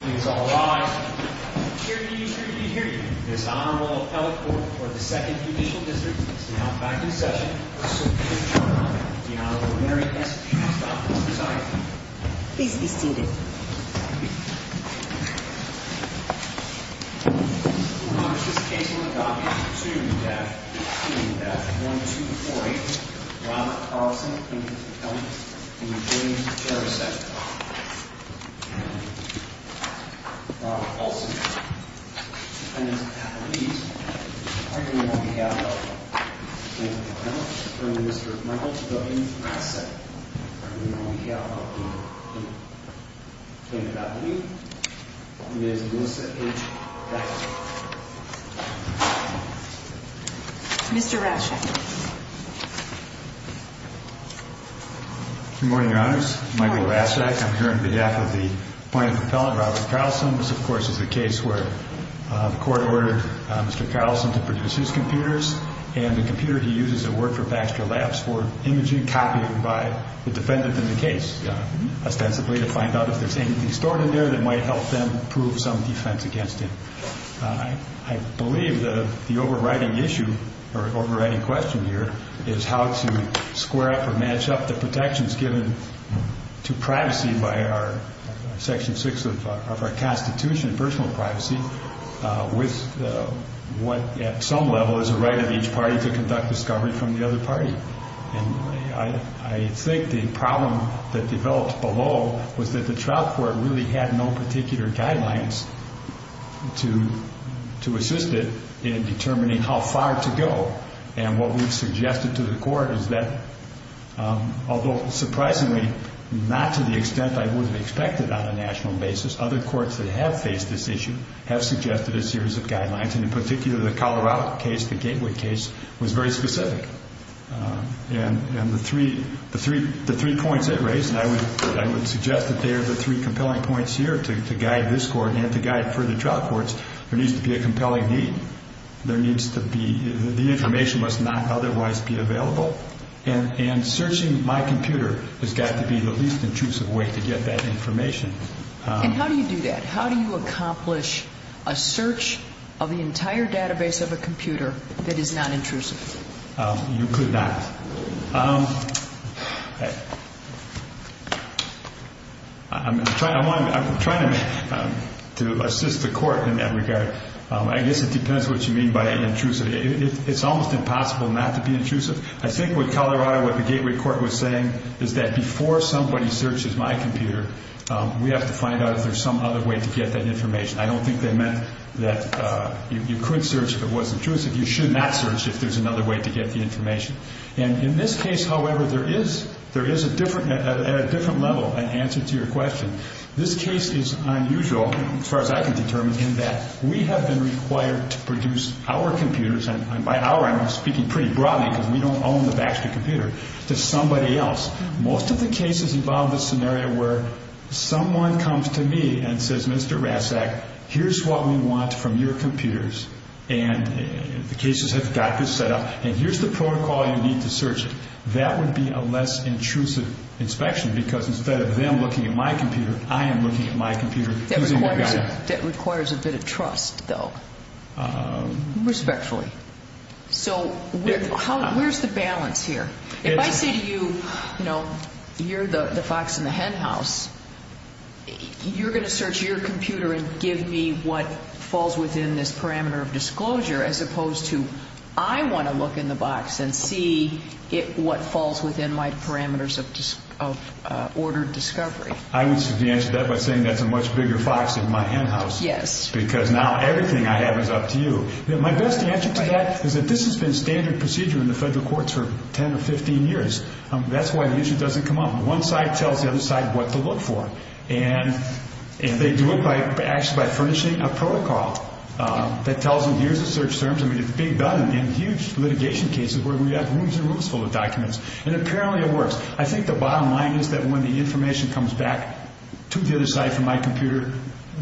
Please all rise. It is a pleasure to hear you. This Honorable Appellate Court for the 2nd Judicial District is now back in session. The Honorable Mary S. Trostoff is presiding. Please be seated. We will now proceed to the case on the copies of 2-1248, Ronald Carlson v. Jerousek. Ronald Carlson, and his appellate, are here on behalf of the plaintiff's appellate, Mr. Michael W. Rasek. Are here on behalf of the plaintiff's appellate, Ms. Melissa H. Rasek. Mr. Rasek. Good morning, Your Honors. Michael Rasek, I'm here on behalf of the Mr. Carlson. This, of course, is the case where the court ordered Mr. Carlson to produce his computers, and the computer he uses at work for Baxter Labs for imaging, copying by the defendant in the case, ostensibly to find out if there's anything stored in there that might help them prove some defense against him. I believe the overriding issue, or overriding question here, is how to square up or match up the protections given to privacy by Section 6 of our Constitution, personal privacy, with what, at some level, is a right of each party to conduct discovery from the other party. And I think the problem that developed below was that the trial court really had no particular guidelines to assist it in determining how far to go. And what we've suggested to the court is that, although surprisingly not to the extent I would have expected on a national basis, other courts that have faced this issue have suggested a series of guidelines, and in particular the Colorado case, the Gateway case, was very specific. And the three points it raised, and I would suggest that they are the three compelling points here to guide this court and to guide further trial courts, there needs to be a compelling need. There needs to be... the information must not otherwise be available. And searching my computer has got to be the least intrusive way to get that information. And how do you do that? How do you accomplish a search of the entire database of a computer that is not intrusive? You could not. I'm trying to assist the court in that regard. I guess it depends what you mean by intrusive. It's almost impossible not to be intrusive. I think with Colorado, what the Gateway court was saying is that before somebody searches my computer, we have to find out if there's some other way to get that information. I don't think they meant that you could search if it wasn't intrusive. You should not search if there's another way to get the information. And in this case, however, there is at a different level an answer to your question. This case is unusual, as far as I can determine, in that we have been required to produce our computers, and by our I'm speaking pretty broadly because we don't own the Baxter computer, to somebody else. Most of the cases involve the scenario where someone comes to me and says, Mr. Ratzak, here's what we want from your computers, and the cases have got this set up, and here's the protocol you need to search. That would be a less intrusive inspection I am looking at my computer. That requires a bit of trust, though. Respectfully. So where's the balance here? If I say to you, you're the fox in the henhouse, you're going to search your computer and give me what falls within this parameter of disclosure, as opposed to I want to look in the box and see what falls within my parameters of ordered discovery. I would suggest that by saying that's a much bigger fox in my henhouse. Yes. Because now everything I have is up to you. My best answer to that is that this has been standard procedure in the federal courts for 10 or 15 years. That's why the issue doesn't come up. One side tells the other side what to look for, and they do it actually by furnishing a protocol that tells them here's the search terms. I mean, it's being done in huge litigation cases where we have rooms and rooms full of documents, and apparently it works. I think the bottom line is that when the information comes back to the other side from my computer,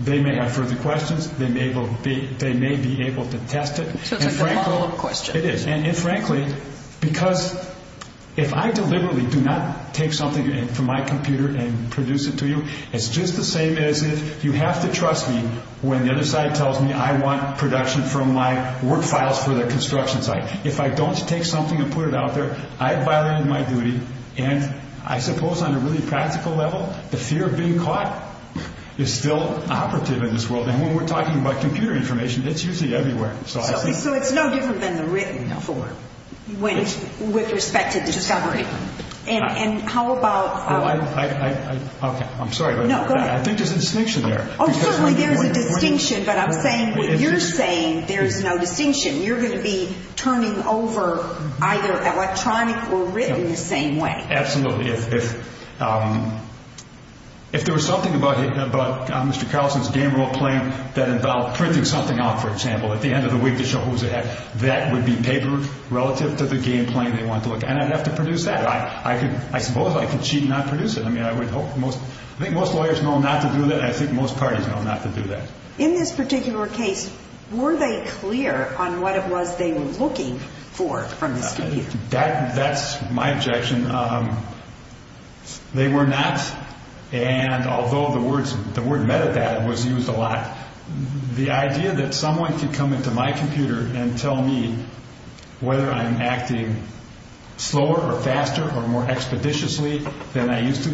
they may have further questions. They may be able to test it. So it's a model of question. It is. And frankly, because if I deliberately do not take something from my computer and produce it to you, it's just the same as if you have to trust me when the other side tells me I want production from my work files for their construction site. If I don't take something and put it out there, I have violated my duty. And I suppose on a really practical level, the fear of being caught is still operative in this world. And when we're talking about computer information, it's usually everywhere. So it's no different than the written form with respect to discovery. And how about... I'm sorry. I think there's a distinction there. Oh, certainly there's a distinction, but I'm saying what you're saying, there's no distinction. You're going to be turning over either electronic or written the same way. Absolutely. If there was something about Mr. Carlson's game rule plan that involved printing something out, for example, at the end of the week to show who's ahead, that would be papered relative to the game plan they wanted to look at. And I'd have to produce that. I suppose I could cheat and not produce it. I think most lawyers know not to do that, and I think most parties know not to do that. In this particular case, were they clear on what it was they were looking for from this computer? That's my objection. They were not. And although the word metadata was used a lot, the idea that someone could come into my computer and tell me whether I'm acting slower or faster or more expeditiously than I used to,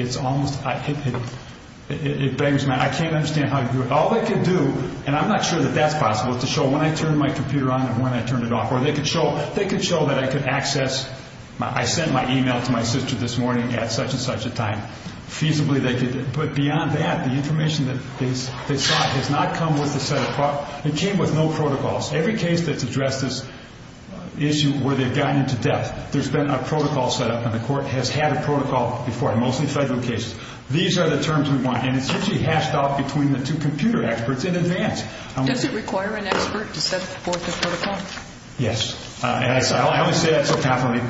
it's almost... I can't understand how you do it. All they could do, and I'm not sure that that's possible, is to show when I turned my computer on and when I turned it off. Or they could show that I could access... I sent my e-mail to my sister this morning at such-and-such a time. Feasibly they could. But beyond that, the information that they saw has not come with the set-apart... It came with no protocols. Every case that's addressed this issue where they've gone into depth, there's been a protocol set up, and the Court has had a protocol before, mostly federal cases. These are the terms we want, and it's actually hashed out between the two computer experts in advance. Does it require an expert to set forth a protocol? Yes. I only say that so happily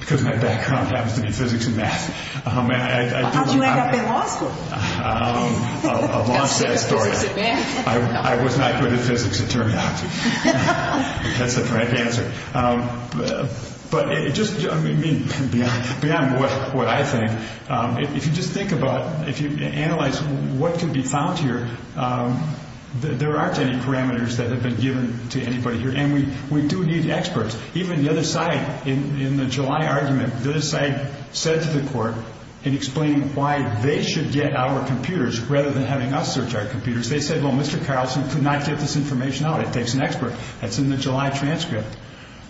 because my background happens to be physics and math. How'd you end up in law school? A long-said story. I was not good at physics, it turned out to be. That's the correct answer. But just beyond what I think, if you just think about, if you analyze what could be found here, there aren't any parameters that have been given to anybody here, and we do need experts. Even the other side, in the July argument, the other side said to the Court and explained why they should get our computers rather than having us search our computers. They said, well, Mr. Carlson could not get this information out. It takes an expert. That's in the July transcript.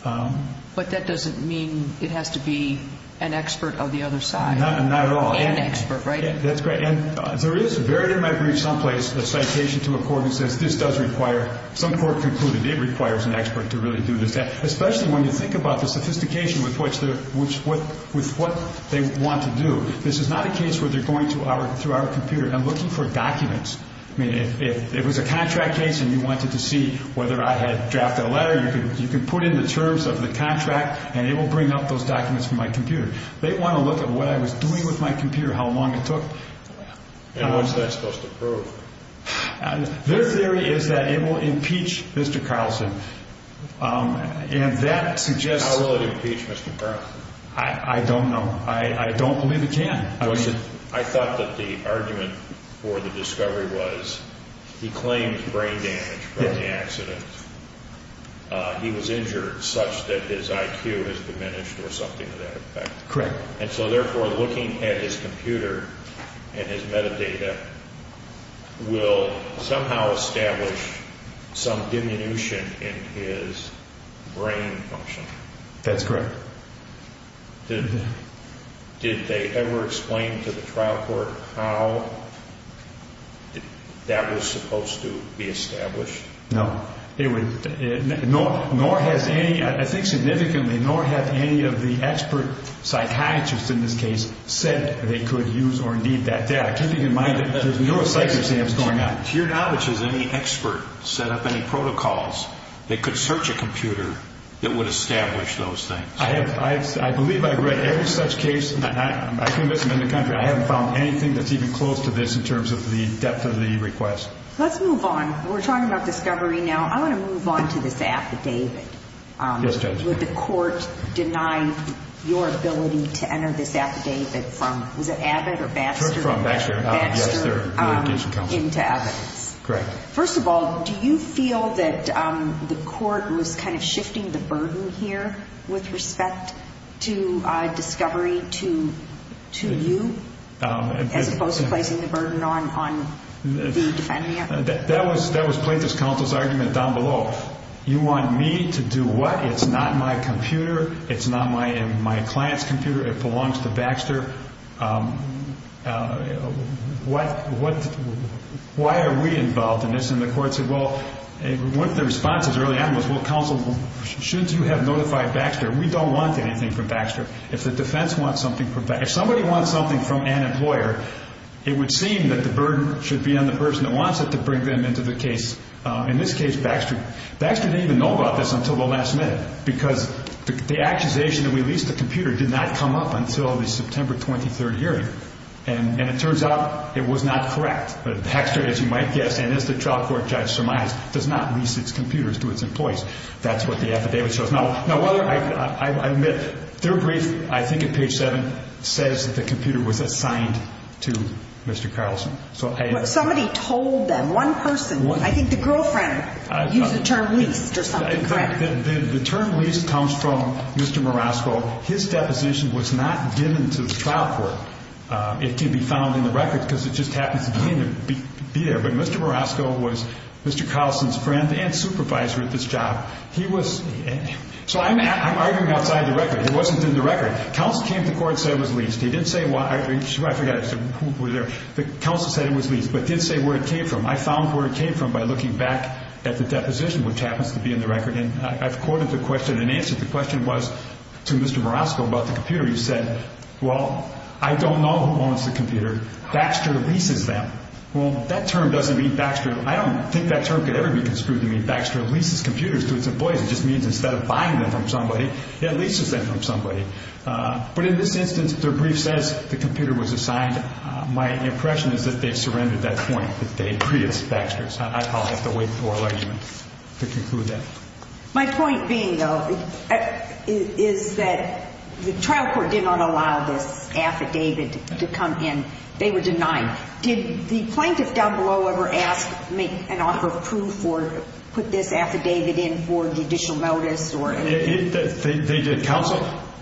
But that doesn't mean it has to be an expert of the other side. Not at all. An expert, right? That's correct. And there is, buried in my brief someplace, a citation to a court that says this does require, some court concluded it requires an expert to really do this, especially when you think about the sophistication with what they want to do. This is not a case where they're going through our computer and looking for documents. If it was a contract case and you wanted to see whether I had drafted a letter, you can put in the terms of the contract and it will bring up those documents from my computer. They want to look at what I was doing with my computer, how long it took. And what's that supposed to prove? Their theory is that it will impeach Mr. Carlson. And that suggests— How will it impeach Mr. Carlson? I don't know. I don't believe it can. I thought that the argument for the discovery was he claimed brain damage from the accident. He was injured such that his IQ has diminished or something to that effect. Correct. And so therefore looking at his computer and his metadata will somehow establish some diminution in his brain function. That's correct. Did they ever explain to the trial court how that was supposed to be established? No. Nor has any, I think significantly, nor have any of the expert psychiatrists in this case said they could use or need that data, keeping in mind that there's no psych exams going on. They could search a computer that would establish those things. I believe I've read every such case. I can admit I'm in the country. I haven't found anything that's even close to this in terms of the depth of the request. Let's move on. We're talking about discovery now. I want to move on to this affidavit. Yes, Judge. Would the court deny your ability to enter this affidavit from— was it Abbott or Baxter? From Baxter. Yes, they're relocation counsel. Into evidence? Correct. First of all, do you feel that the court was kind of shifting the burden here with respect to discovery to you as opposed to placing the burden on the defendant? That was plaintiff's counsel's argument down below. You want me to do what? It's not my computer. It's not my client's computer. It belongs to Baxter. Why are we involved in this? And the court said, well, one of the responses early on was, well, counsel, shouldn't you have notified Baxter? We don't want anything from Baxter. If the defense wants something from Baxter, if somebody wants something from an employer, it would seem that the burden should be on the person that wants it to bring them into the case. In this case, Baxter didn't even know about this until the last minute because the accusation that we leased the computer did not come up until the September 23rd hearing. And it turns out it was not correct. Baxter, as you might guess, and as the trial court judge surmised, does not lease its computers to its employees. That's what the affidavit shows. Now, I admit, their brief, I think at page 7, says that the computer was assigned to Mr. Carlson. Somebody told them. One person. I think the girlfriend used the term leased or something, correct? The term leased comes from Mr. Marasco. His deposition was not given to the trial court. It can be found in the record because it just happens to be there. But Mr. Marasco was Mr. Carlson's friend and supervisor at this job. So I'm arguing outside the record. It wasn't in the record. Counsel came to court and said it was leased. He didn't say why. I forgot who was there. The counsel said it was leased but didn't say where it came from. I found where it came from by looking back at the deposition, which happens to be in the record. And I've quoted the question. And the answer to the question was to Mr. Marasco about the computer. He said, well, I don't know who owns the computer. Baxter leases them. Well, that term doesn't mean Baxter. I don't think that term could ever be construed to mean Baxter leases computers to its employees. It just means instead of buying them from somebody, it leases them from somebody. But in this instance, their brief says the computer was assigned. My impression is that they've surrendered at that point. That they agree it's Baxter's. I'd probably have to wait for a ligament to conclude that. My point being, though, is that the trial court did not allow this affidavit to come in. They were denied. Did the plaintiff down below ever ask, make an offer of proof or put this affidavit in for judicial notice? They did counsel.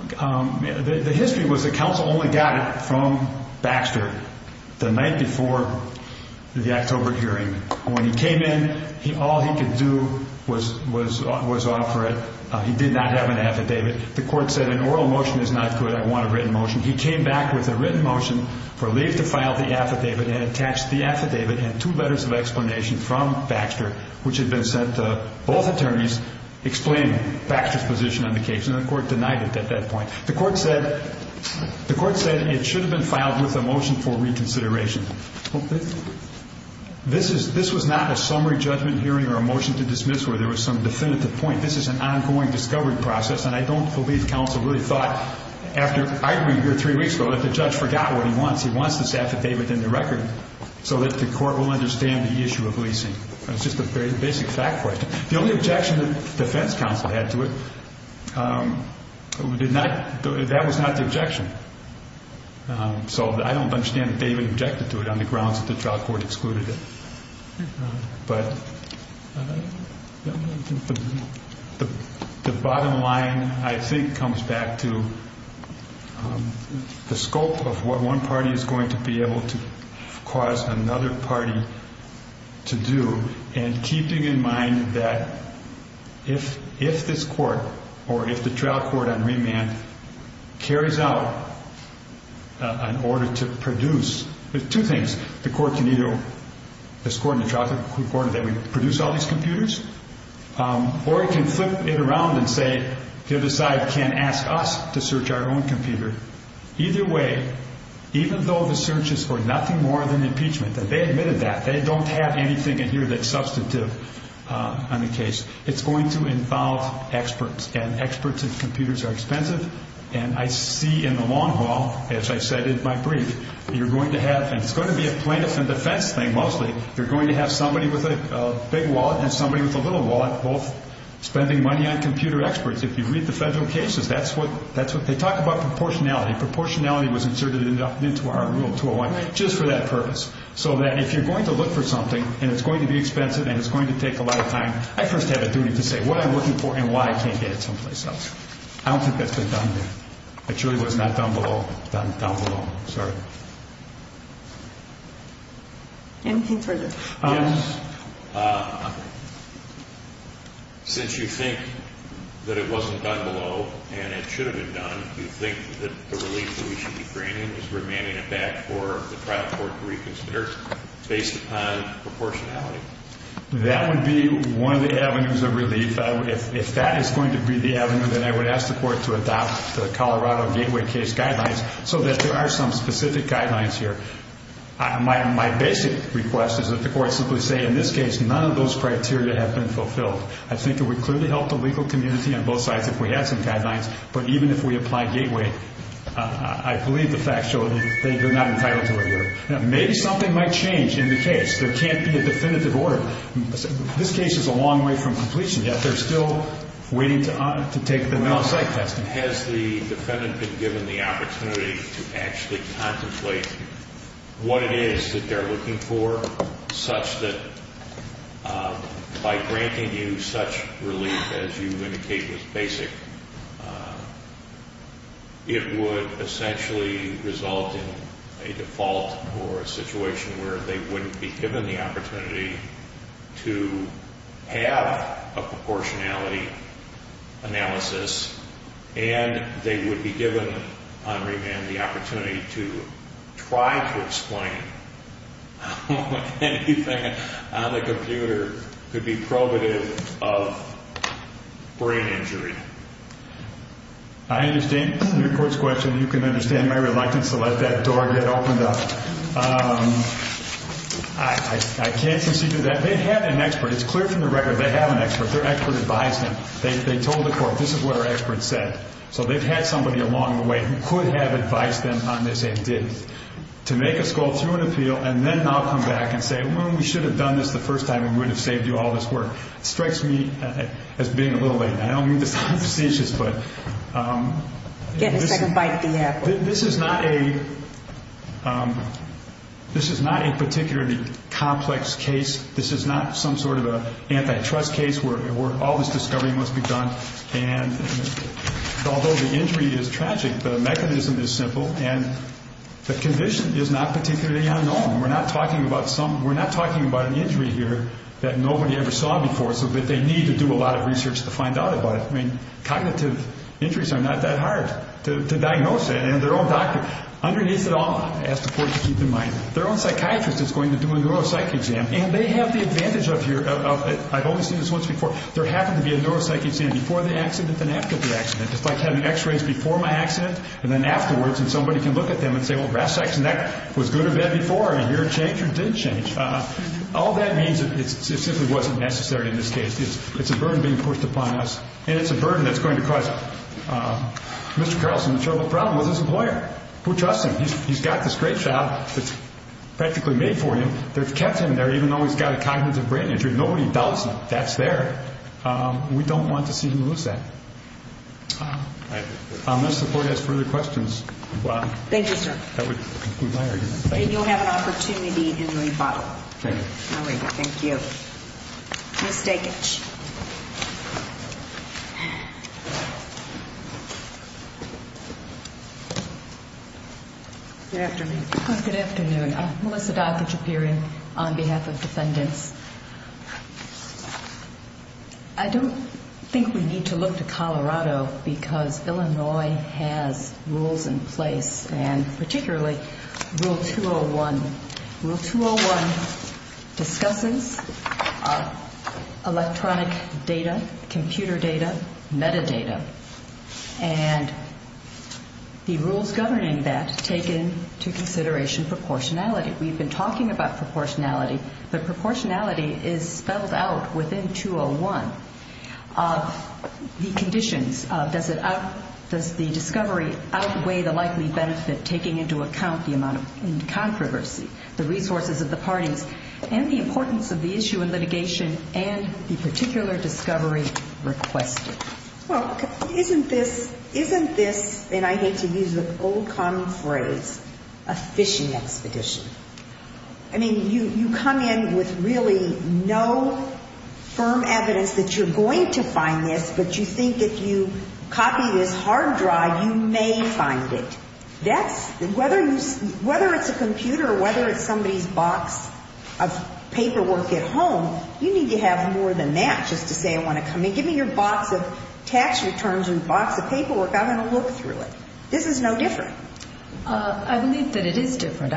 The history was the counsel only got it from Baxter the night before the October hearing. When he came in, all he could do was offer it. He did not have an affidavit. The court said an oral motion is not good. I want a written motion. He came back with a written motion for leave to file the affidavit and attach the affidavit and two letters of explanation from Baxter, which had been sent to both attorneys, explaining Baxter's position on the case. And the court denied it at that point. The court said it should have been filed with a motion for reconsideration. This was not a summary judgment hearing or a motion to dismiss where there was some definitive point. This is an ongoing discovery process, and I don't believe counsel really thought after arguing here three weeks ago that the judge forgot what he wants. He wants this affidavit in the record so that the court will understand the issue of leasing. It's just a very basic fact question. The only objection the defense counsel had to it, that was not the objection. So I don't understand that they even objected to it on the grounds that the trial court excluded it. But the bottom line, I think, comes back to the scope of what one party is going to be able to cause another party to do and keeping in mind that if this court, or if the trial court on remand, carries out an order to produce, there's two things. The court can either, this court and the trial court, produce all these computers, or it can flip it around and say the other side can ask us to search our own computer. Either way, even though the search is for nothing more than impeachment, that they admitted that, they don't have anything in here that's substantive on the case. It's going to involve experts, and experts in computers are expensive, and I see in the long haul, as I said in my brief, you're going to have, and it's going to be a plaintiff and defense thing mostly, you're going to have somebody with a big wallet and somebody with a little wallet, both spending money on computer experts. If you read the federal cases, that's what they talk about proportionality. Proportionality was inserted into our rule 201 just for that purpose, so that if you're going to look for something and it's going to be expensive and it's going to take a lot of time, I first have a duty to say what I'm looking for and why I can't get it someplace else. I don't think that's been done there. It truly was not done below, done down below. Sorry. Anything further? Yes. Since you think that it wasn't done below and it should have been done, do you think that the relief that we should be granting is remanding it back for the trial court to reconsider based upon proportionality? That would be one of the avenues of relief. If that is going to be the avenue, then I would ask the court to adopt the Colorado Gateway case guidelines so that there are some specific guidelines here. My basic request is that the court simply say, in this case, none of those criteria have been fulfilled. I think it would clearly help the legal community on both sides if we had some guidelines, but even if we apply Gateway, I believe the facts show that they're not entitled to a hearing. Maybe something might change in the case. There can't be a definitive order. This case is a long way from completion, yet they're still waiting to take the mental psych test. Has the defendant been given the opportunity to actually contemplate what it is that they're looking for such that by granting you such relief as you indicate was basic, it would essentially result in a default or a situation where they wouldn't be given the opportunity to have a proportionality analysis, and they would be given on remand the opportunity to try to explain how anything on the computer could be probative of brain injury. I understand your court's question. You can understand my reluctance to let that door get opened up. I can't concede to that. They had an expert. It's clear from the record they have an expert. Their expert advised them. They told the court, this is what our expert said. So they've had somebody along the way who could have advised them on this. They didn't. To make us go through an appeal and then now come back and say, well, we should have done this the first time and we would have saved you all this work, strikes me as being a little late. I don't mean to sound facetious, but this is not a particularly complex case. This is not some sort of an antitrust case where all this discovery must be done. Although the injury is tragic, the mechanism is simple, and the condition is not particularly unknown. We're not talking about an injury here that nobody ever saw before so that they need to do a lot of research to find out about it. Cognitive injuries are not that hard to diagnose. Underneath it all, I ask the court to keep in mind, their own psychiatrist is going to do a neuropsych exam, and they have the advantage of here, I've only seen this once before, there happens to be a neuropsych exam before the accident and after the accident. It's like having x-rays before my accident and then afterwards, and somebody can look at them and say, well, breast, sex, and that was good or bad before, or did it change or didn't change. All that means is it simply wasn't necessary in this case. It's a burden being pushed upon us, and it's a burden that's going to cause Mr. Carlson a terrible problem with his employer. We trust him. He's got this great job that's practically made for him. They've kept him there even though he's got a cognitive brain injury. Nobody doubts that that's there. We don't want to see him lose that. Unless the court has further questions. Thank you, sir. That would conclude my argument. And you'll have an opportunity in the rebuttal. Thank you. Thank you. Ms. Dekic. Good afternoon. Good afternoon. I'm Melissa Dekic appearing on behalf of defendants. I don't think we need to look to Colorado because Illinois has rules in place, and particularly Rule 201. Rule 201 discusses electronic data, computer data, metadata. And the rules governing that take into consideration proportionality. We've been talking about proportionality, but proportionality is spelled out within 201 of the conditions. Does the discovery outweigh the likely benefit taking into account the amount of controversy, the resources of the parties, and the importance of the issue in litigation and the particular discovery requested? Well, isn't this, and I hate to use the old common phrase, a fishing expedition? I mean, you come in with really no firm evidence that you're going to find this, but you think if you copy this hard drive, you may find it. Whether it's a computer or whether it's somebody's box of paperwork at home, you need to have more than that just to say I want to come in. Give me your box of tax returns and box of paperwork. I'm going to look through it. This is no different. I believe that it is different.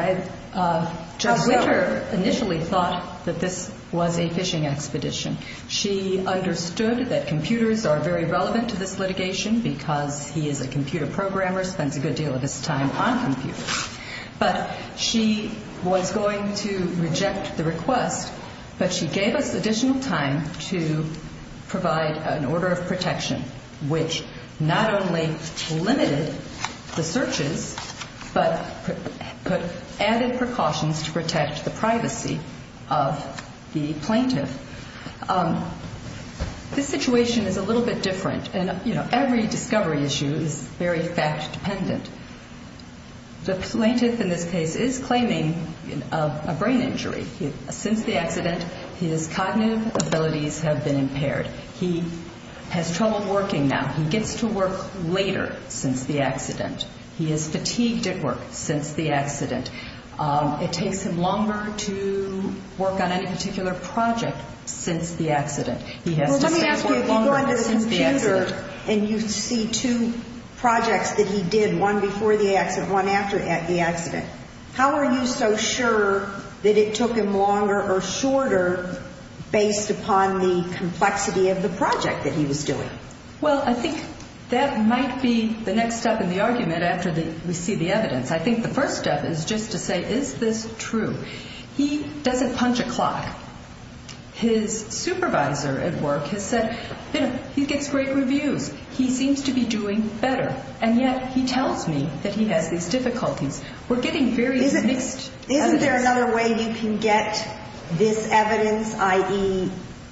Judge Wicker initially thought that this was a fishing expedition. She understood that computers are very relevant to this litigation because he is a computer programmer, spends a good deal of his time on computers. But she was going to reject the request, but she gave us additional time to provide an order of protection, which not only limited the searches, but added precautions to protect the privacy of the plaintiff. This situation is a little bit different, and every discovery issue is very fact-dependent. The plaintiff in this case is claiming a brain injury. Since the accident, his cognitive abilities have been impaired. He has trouble working now. He gets to work later since the accident. He is fatigued at work since the accident. It takes him longer to work on any particular project since the accident. Let me ask you, if you go on the computer and you see two projects that he did, one before the accident, one after the accident, how are you so sure that it took him longer or shorter based upon the complexity of the project that he was doing? Well, I think that might be the next step in the argument after we see the evidence. I think the first step is just to say, is this true? He doesn't punch a clock. His supervisor at work has said, you know, he gets great reviews. He seems to be doing better, and yet he tells me that he has these difficulties. We're getting very mixed evidence. Isn't there another way you can get this evidence, i.e.,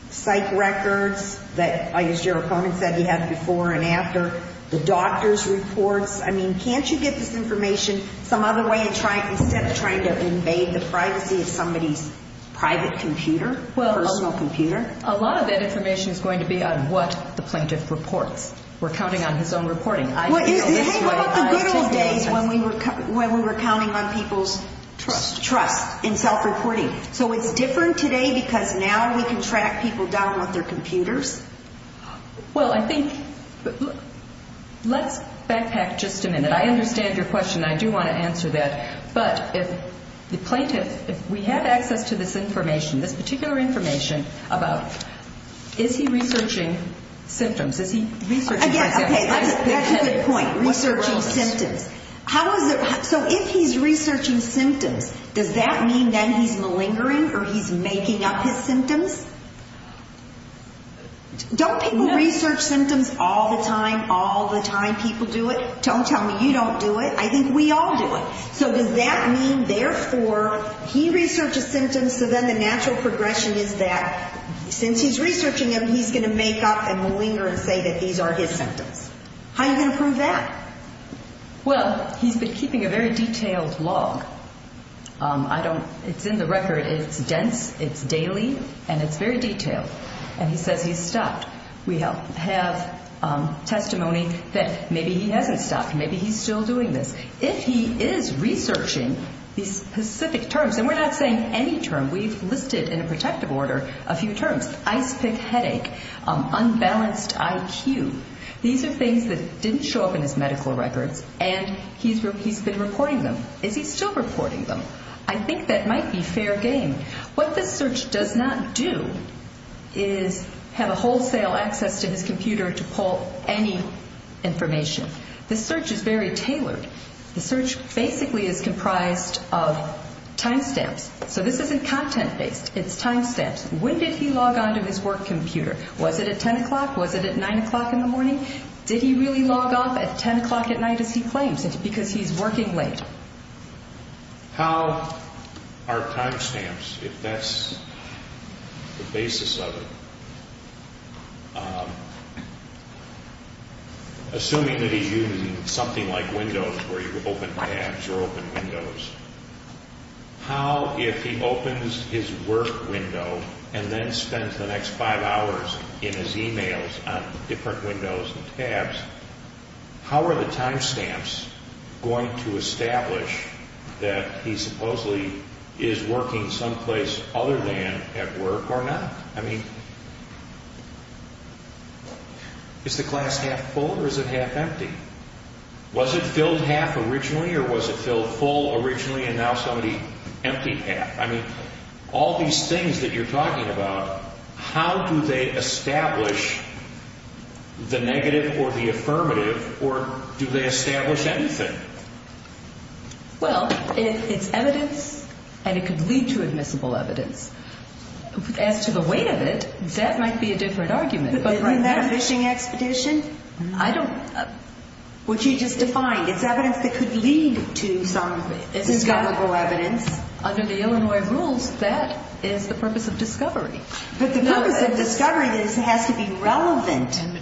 psych records that, as your opponent said, he had before and after, the doctor's reports? I mean, can't you get this information some other way instead of trying to invade the privacy of somebody's private computer, personal computer? Well, a lot of that information is going to be on what the plaintiff reports. We're counting on his own reporting. What about the good old days when we were counting on people's trust in self-reporting? So it's different today because now we can track people down with their computers? Well, I think let's backpack just a minute. I understand your question, and I do want to answer that. But if the plaintiff, if we have access to this information, this particular information about, is he researching symptoms? Okay, that's a good point, researching symptoms. So if he's researching symptoms, does that mean then he's malingering or he's making up his symptoms? Don't people research symptoms all the time? All the time people do it. Don't tell me you don't do it. I think we all do it. So does that mean, therefore, he researches symptoms, so then the natural progression is that since he's researching them, he's going to make up and malinger and say that these are his symptoms? How are you going to prove that? Well, he's been keeping a very detailed log. I don't, it's in the record. It's dense, it's daily, and it's very detailed. And he says he's stopped. We have testimony that maybe he hasn't stopped, maybe he's still doing this. If he is researching these specific terms, and we're not saying any term, we've listed in a protective order a few terms, ice pick headache, unbalanced IQ. These are things that didn't show up in his medical records, and he's been reporting them. Is he still reporting them? I think that might be fair game. What this search does not do is have a wholesale access to his computer to pull any information. This search is very tailored. The search basically is comprised of time stamps. So this isn't content-based. It's time stamps. When did he log on to his work computer? Was it at 10 o'clock? Was it at 9 o'clock in the morning? Did he really log off at 10 o'clock at night as he claims it because he's working late? How are time stamps, if that's the basis of it, assuming that he's using something like Windows where you open tabs or open Windows, how, if he opens his work window and then spends the next five hours in his e-mails on different windows and tabs, how are the time stamps going to establish that he supposedly is working someplace other than at work or not? I mean, is the class half full or is it half empty? Was it filled half originally or was it filled full originally and now somebody emptied half? I mean, all these things that you're talking about, how do they establish the negative or the affirmative or do they establish anything? Well, it's evidence and it could lead to admissible evidence. As to the weight of it, that might be a different argument. Isn't that a fishing expedition? I don't know. Which you just defined. It's evidence that could lead to some discoverable evidence. Under the Illinois rules, that is the purpose of discovery. But the purpose of discovery is it has to be relevant and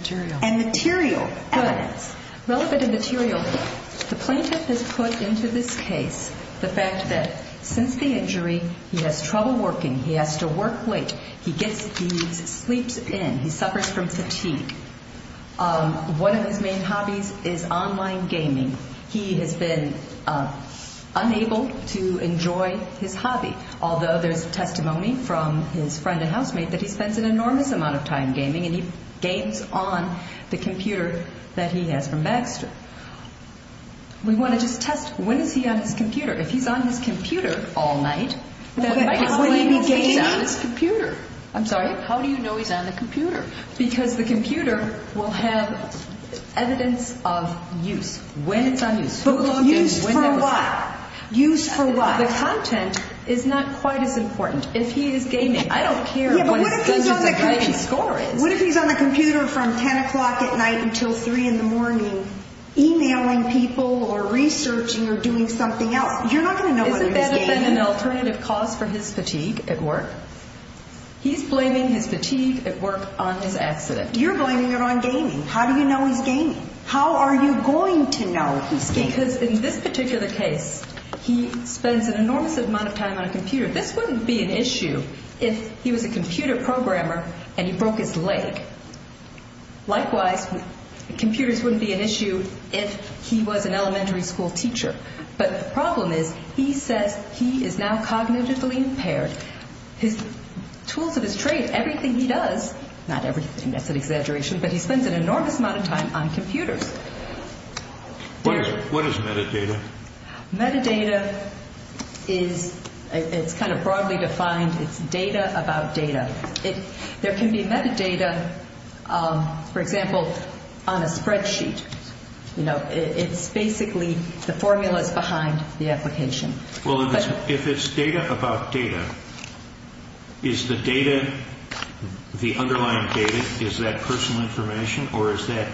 material evidence. Good. Relevant and material. The plaintiff has put into this case the fact that since the injury, he has trouble working. He has to work late. He gets thieves, sleeps in. He suffers from fatigue. One of his main hobbies is online gaming. He has been unable to enjoy his hobby, although there's testimony from his friend and housemate that he spends an enormous amount of time gaming and he games on the computer that he has from Baxter. We want to just test when is he on his computer. If he's on his computer all night, then how do you know he's on his computer? I'm sorry? How do you know he's on the computer? Because the computer will have evidence of use. When it's on use. But used for what? Used for what? The content is not quite as important. If he is gaming, I don't care what his average score is. What if he's on the computer from 10 o'clock at night until 3 in the morning emailing people or researching or doing something else? You're not going to know when he's gaming. Isn't that an alternative cause for his fatigue at work? He's blaming his fatigue at work on his accident. You're blaming it on gaming. How do you know he's gaming? How are you going to know he's gaming? Because in this particular case, he spends an enormous amount of time on a computer. This wouldn't be an issue if he was a computer programmer and he broke his leg. Likewise, computers wouldn't be an issue if he was an elementary school teacher. But the problem is he says he is now cognitively impaired. Tools of his trade, everything he does, not everything, that's an exaggeration, but he spends an enormous amount of time on computers. What is metadata? Metadata is kind of broadly defined. It's data about data. There can be metadata, for example, on a spreadsheet. It's basically the formulas behind the application. If it's data about data, is the data, the underlying data, is that personal information or is that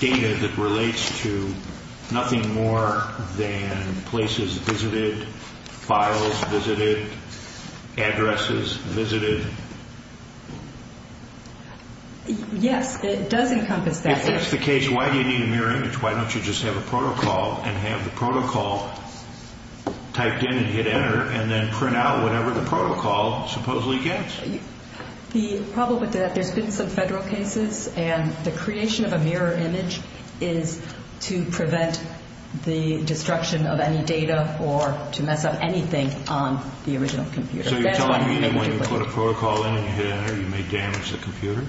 data that relates to nothing more than places visited, files visited, addresses visited? Yes, it does encompass that. If that's the case, why do you need a mirror image? Why don't you just have a protocol and have the protocol typed in and hit enter and then print out whatever the protocol supposedly gets? The problem with that, there's been some federal cases, and the creation of a mirror image is to prevent the destruction of any data or to mess up anything on the original computer. So you're telling me that when you put a protocol in and you hit enter, you may damage the computer?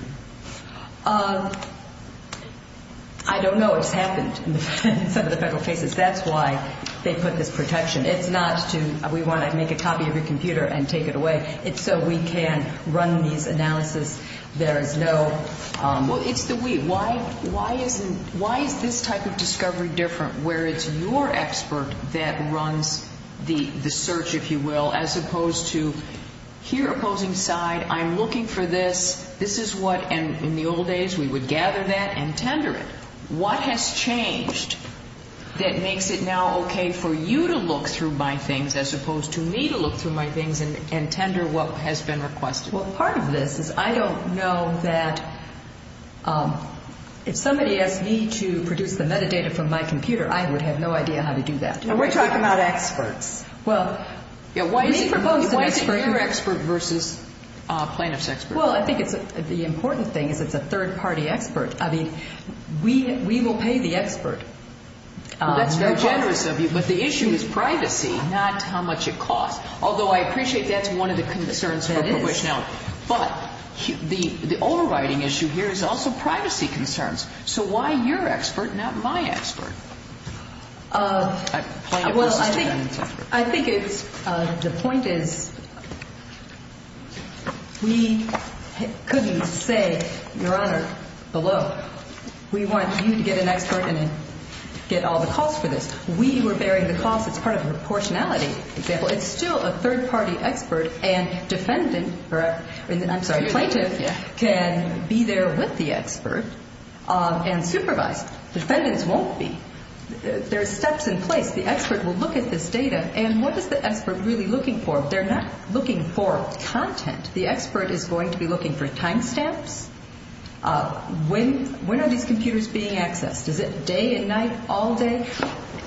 I don't know. It's happened in some of the federal cases. That's why they put this protection. It's not to, we want to make a copy of your computer and take it away. It's so we can run these analysis. There is no— Well, it's the we. Why is this type of discovery different where it's your expert that runs the search, if you will, as opposed to here opposing side, I'm looking for this, this is what, and in the old days we would gather that and tender it. What has changed that makes it now okay for you to look through my things as opposed to me to look through my things and tender what has been requested? Well, part of this is I don't know that if somebody asked me to produce the metadata from my computer, I would have no idea how to do that. We're talking about experts. Why is it your expert versus plaintiff's expert? Well, I think the important thing is it's a third-party expert. I mean, we will pay the expert. Well, that's very generous of you, but the issue is privacy, not how much it costs, although I appreciate that's one of the concerns for probation. But the overriding issue here is also privacy concerns. So why your expert, not my expert? Well, I think it's the point is we couldn't say, Your Honor, below, we want you to get an expert and get all the costs for this. We were bearing the costs. It's part of a proportionality example. It's still a third-party expert, and defendant, or I'm sorry, plaintiff, can be there with the expert and supervise. Defendants won't be. There are steps in place. The expert will look at this data, and what is the expert really looking for? They're not looking for content. The expert is going to be looking for time stamps. When are these computers being accessed? Is it day and night, all day?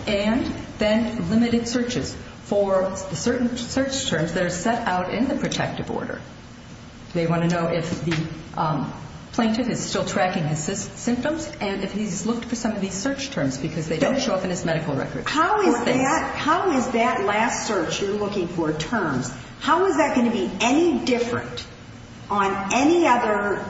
And then limited searches for certain search terms that are set out in the protective order. They want to know if the plaintiff is still tracking his symptoms and if he's looked for some of these search terms because they don't show up in his medical records. How is that last search you're looking for, terms, how is that going to be any different on any other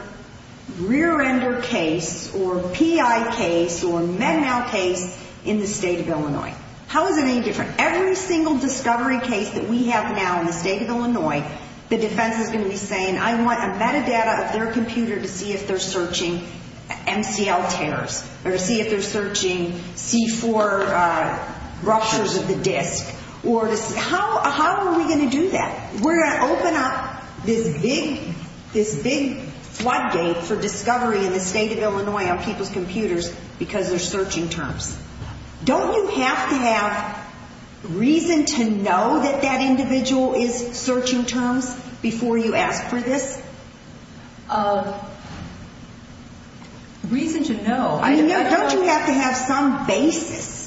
rear-ender case or PI case or Med-Mal case in the state of Illinois? How is it any different? Every single discovery case that we have now in the state of Illinois, the defense is going to be saying, I want a metadata of their computer to see if they're searching MCL tears or to see if they're searching C4 ruptures of the disk. How are we going to do that? We're going to open up this big floodgate for discovery in the state of Illinois on people's computers because there's searching terms. Don't you have to have reason to know that that individual is searching terms before you ask for this? Reason to know? Don't you have to have some basis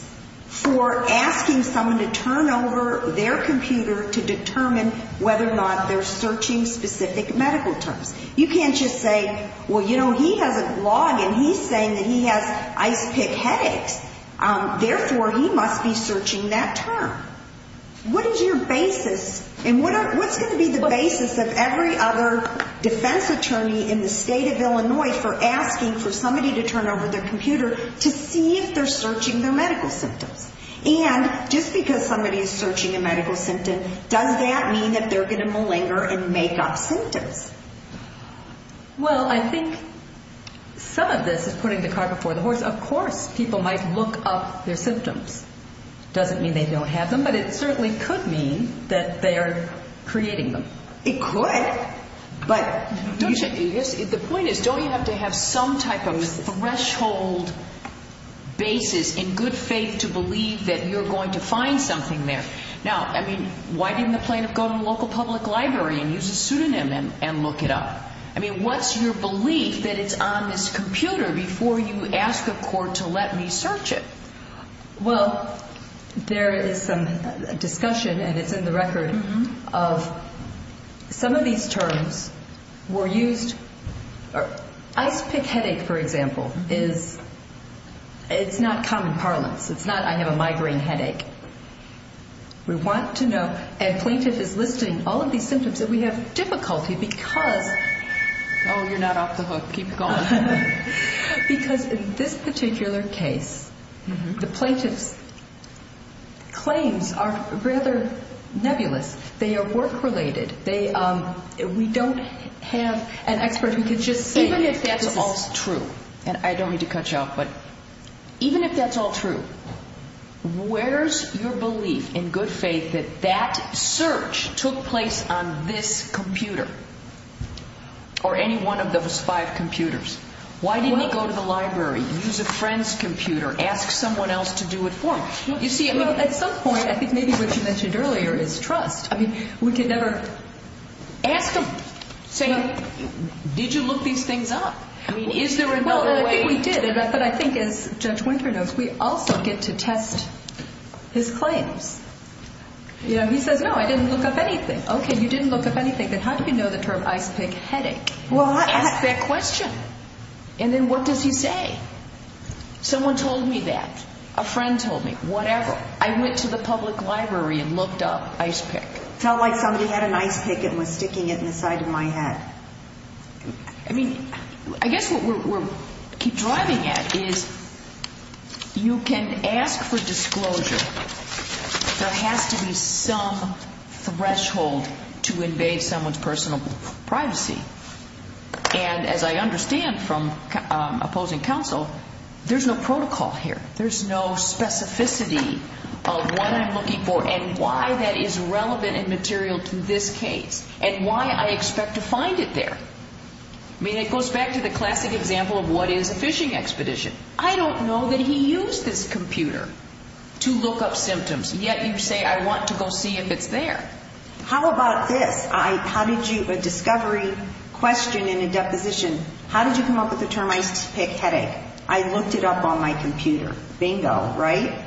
for asking someone to turn over their computer to determine whether or not they're searching specific medical terms? You can't just say, well, you know, he has a blog and he's saying that he has ice pick headaches. Therefore, he must be searching that term. What is your basis and what's going to be the basis of every other defense attorney in the state of Illinois for asking for somebody to turn over their computer to see if they're searching their medical symptoms? And just because somebody is searching a medical symptom, does that mean that they're going to malinger and make up symptoms? Well, I think some of this is putting the cart before the horse. Of course people might look up their symptoms. It doesn't mean they don't have them, but it certainly could mean that they're creating them. It could, but don't you have to have some type of threshold basis in good faith to believe that you're going to find something there. Now, I mean, why didn't the plaintiff go to a local public library and use a pseudonym and look it up? I mean, what's your belief that it's on this computer before you ask a court to let me search it? Well, there is some discussion, and it's in the record, of some of these terms were used. Ice pick headache, for example, is not common parlance. It's not, I have a migraine headache. We want to know, and plaintiff is listing all of these symptoms, that we have difficulty because... Oh, you're not off the hook. Keep going. Because in this particular case, the plaintiff's claims are rather nebulous. They are work-related. We don't have an expert who can just say... Even if that's all true, and I don't mean to cut you off, but even if that's all true, where's your belief in good faith that that search took place on this computer or any one of those five computers? Why didn't he go to the library, use a friend's computer, ask someone else to do it for him? You see, at some point, I think maybe what you mentioned earlier is trust. I mean, we could never... Ask him, say, did you look these things up? I mean, is there another way? Well, I think we did, but I think, as Judge Winter knows, we also get to test his claims. You know, he says, no, I didn't look up anything. Okay, you didn't look up anything. Then how do you know the term ice pick headache? Ask that question. And then what does he say? Someone told me that. A friend told me. Whatever. I went to the public library and looked up ice pick. It felt like somebody had an ice pick and was sticking it in the side of my head. I mean, I guess what we're driving at is you can ask for disclosure. There has to be some threshold to invade someone's personal privacy. And as I understand from opposing counsel, there's no protocol here. There's no specificity of what I'm looking for and why that is relevant and material to this case and why I expect to find it there. I mean, it goes back to the classic example of what is a fishing expedition. I don't know that he used this computer to look up symptoms, yet you say I want to go see if it's there. How about this? A discovery question in a deposition, how did you come up with the term ice pick headache? I looked it up on my computer. Bingo, right?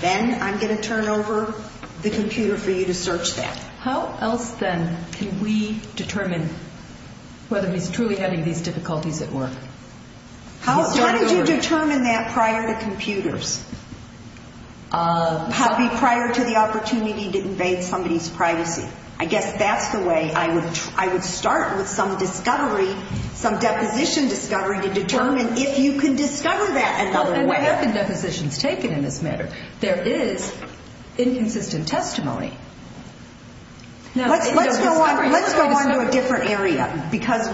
Then I'm going to turn over the computer for you to search that. How else then can we determine whether he's truly having these difficulties at work? How did you determine that prior to computers? Prior to the opportunity to invade somebody's privacy? I guess that's the way I would start with some discovery, some deposition discovery to determine if you can discover that another way. And what have the depositions taken in this matter? There is inconsistent testimony. Let's go on to a different area because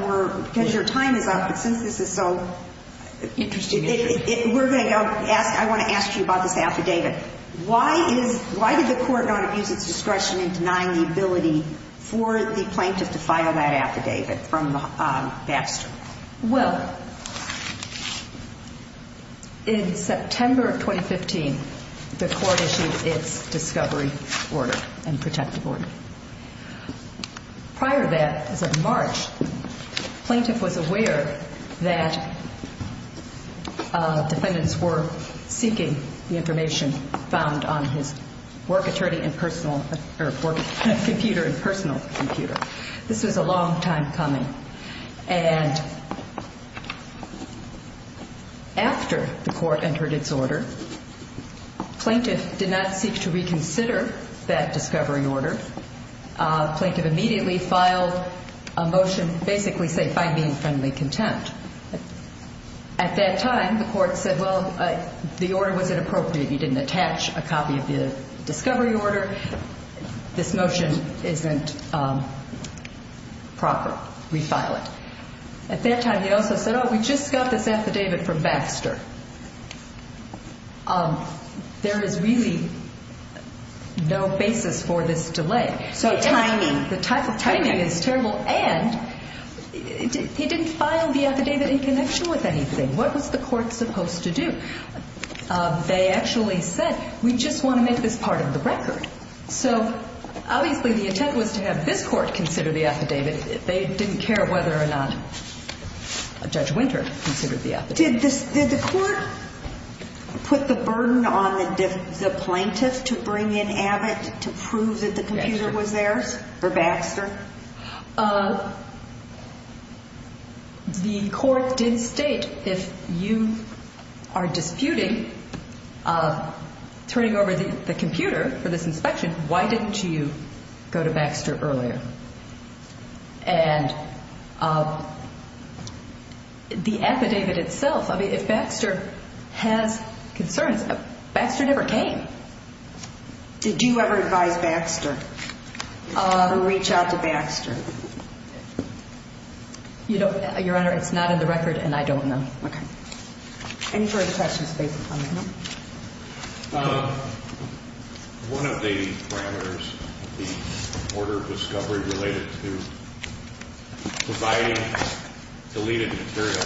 your time is up. Since this is so interesting, I want to ask you about this affidavit. Why did the court not use its discretion in denying the ability for the plaintiff to file that affidavit from Baxter? Well, in September of 2015, the court issued its discovery order and protective order. Prior to that, as of March, the plaintiff was aware that defendants were seeking the information found on his work computer and personal computer. This was a long time coming. And after the court entered its order, plaintiff did not seek to reconsider that discovery order. Plaintiff immediately filed a motion basically saying, find me in friendly contempt. At that time, the court said, well, the order was inappropriate. You didn't attach a copy of the discovery order. This motion isn't proper. Refile it. At that time, he also said, oh, we just got this affidavit from Baxter. There is really no basis for this delay. So timing, the type of timing is terrible. And he didn't file the affidavit in connection with anything. What was the court supposed to do? They actually said, we just want to make this part of the record. So obviously the intent was to have this court consider the affidavit. They didn't care whether or not Judge Winter considered the affidavit. Did the court put the burden on the plaintiff to bring in Abbott to prove that the computer was theirs for Baxter? The court did state, if you are disputing turning over the computer for this inspection, why didn't you go to Baxter earlier? And the affidavit itself, I mean, if Baxter has concerns, Baxter never came. Did you ever advise Baxter to reach out to Baxter? Your Honor, it's not in the record, and I don't know. Okay. Any further questions based upon the memo? One of the parameters, the order of discovery related to providing deleted material,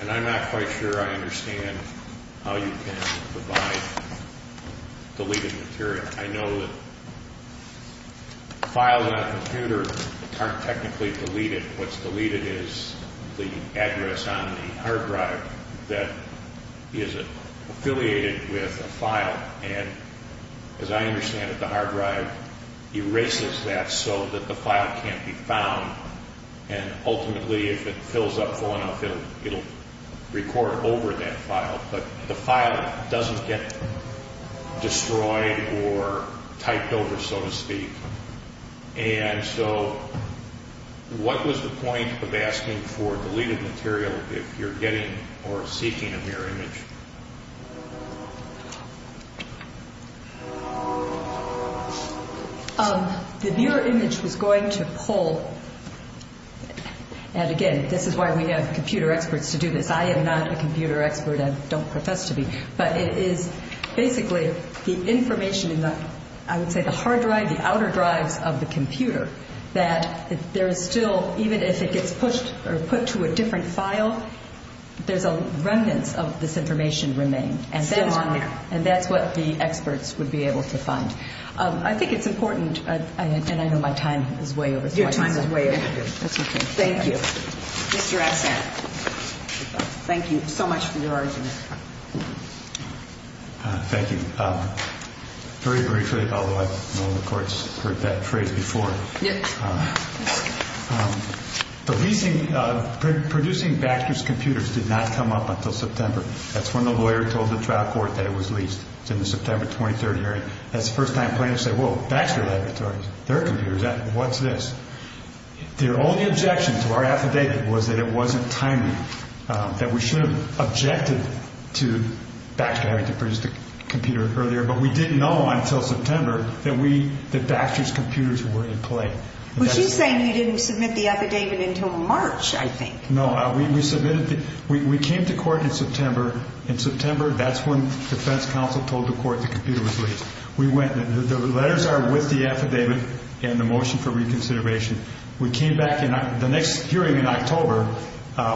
and I'm not quite sure I understand how you can provide deleted material. I know that files on a computer aren't technically deleted. What's deleted is the address on the hard drive that is affiliated with a file. And as I understand it, the hard drive erases that so that the file can't be found. And ultimately, if it fills up full enough, it will record over that file. But the file doesn't get destroyed or typed over, so to speak. And so what was the point of asking for deleted material if you're getting or seeking a mirror image? The mirror image was going to pull, and again, this is why we have computer experts to do this. I am not a computer expert and don't profess to be. But it is basically the information in the, I would say, the hard drive, the outer drives of the computer, that there is still, even if it gets pushed or put to a different file, there's remnants of this information remain. Still on there. And that's what the experts would be able to find. I think it's important, and I know my time is way over. Your time is way over. That's okay. Thank you. Mr. Assange, thank you so much for your argument. Thank you. Very briefly, although I know the Court's heard that phrase before. Yep. The leasing, producing Baxter's computers did not come up until September. That's when the lawyer told the trial court that it was leased. It's in the September 23rd hearing. That's the first time plaintiffs say, whoa, Baxter Laboratories, their computers, what's this? Their only objection to our affidavit was that it wasn't timely, that we should have objected to Baxter having to produce the computer earlier. But we didn't know until September that Baxter's computers were in play. Was he saying he didn't submit the affidavit until March, I think? No. We came to court in September. In September, that's when the defense counsel told the court the computer was leased. The letters are with the affidavit and the motion for reconsideration. We came back in the next hearing in October.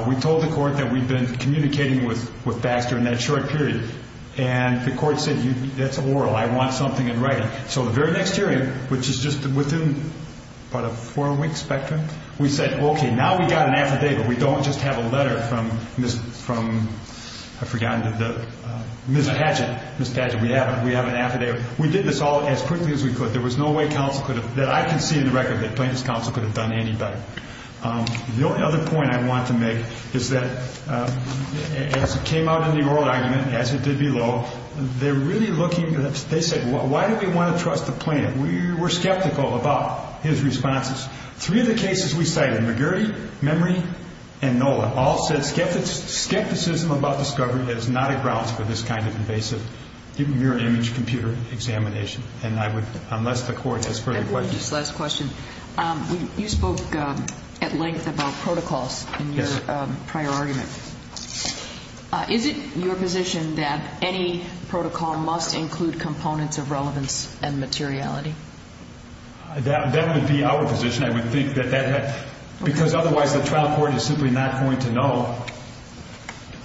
We told the court that we'd been communicating with Baxter in that short period. And the court said, that's oral. I want something in writing. So the very next hearing, which is just within about a four-week spectrum, we said, okay, now we've got an affidavit. We don't just have a letter from Ms. Padgett. Ms. Padgett, we have an affidavit. We did this all as quickly as we could. There was no way counsel could have, that I can see in the record, that plaintiff's counsel could have done any better. The other point I want to make is that as it came out in the oral argument, as it did below, they're really looking, they said, why do we want to trust the plaintiff? We were skeptical about his responses. All said, skepticism about discovery is not a grounds for this kind of invasive, even mirror image computer examination. And I would, unless the court has further questions. Just one last question. You spoke at length about protocols in your prior argument. Is it your position that any protocol must include components of relevance and materiality? That would be our position. Because otherwise the trial court is simply not going to know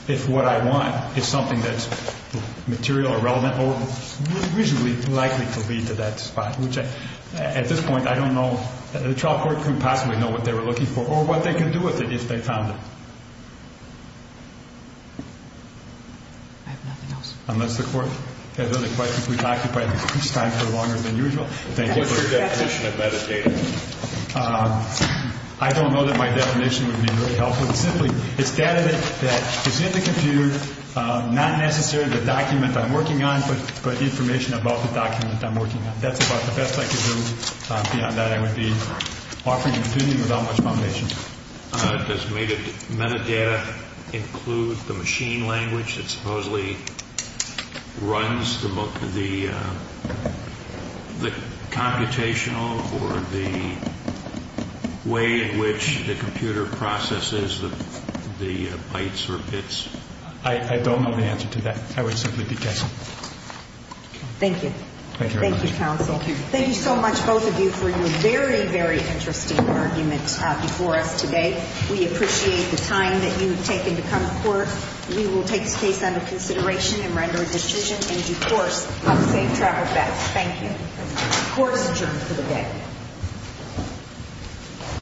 if what I want is something that's material or relevant or reasonably likely to lead to that spot. At this point, I don't know. The trial court couldn't possibly know what they were looking for or what they could do with it if they found it. I have nothing else. Unless the court has other questions, we've occupied this time for longer than usual. What's your definition of metadata? I don't know that my definition would be really helpful. Simply, it's data that is in the computer, not necessarily the document I'm working on, but information about the document I'm working on. That's about the best I could do. Beyond that, I would be offering a computing without much foundation. Does metadata include the machine language that supposedly runs the computational or the way in which the computer processes the bytes or bits? I don't know the answer to that. I would simply be guessing. Thank you. Thank you, counsel. Thank you. Thank you so much, both of you, for your very, very interesting argument before us today. We appreciate the time that you have taken to come to court. We will take this case under consideration and render a decision and, of course, have safe travel back. Thank you. Court is adjourned for the day.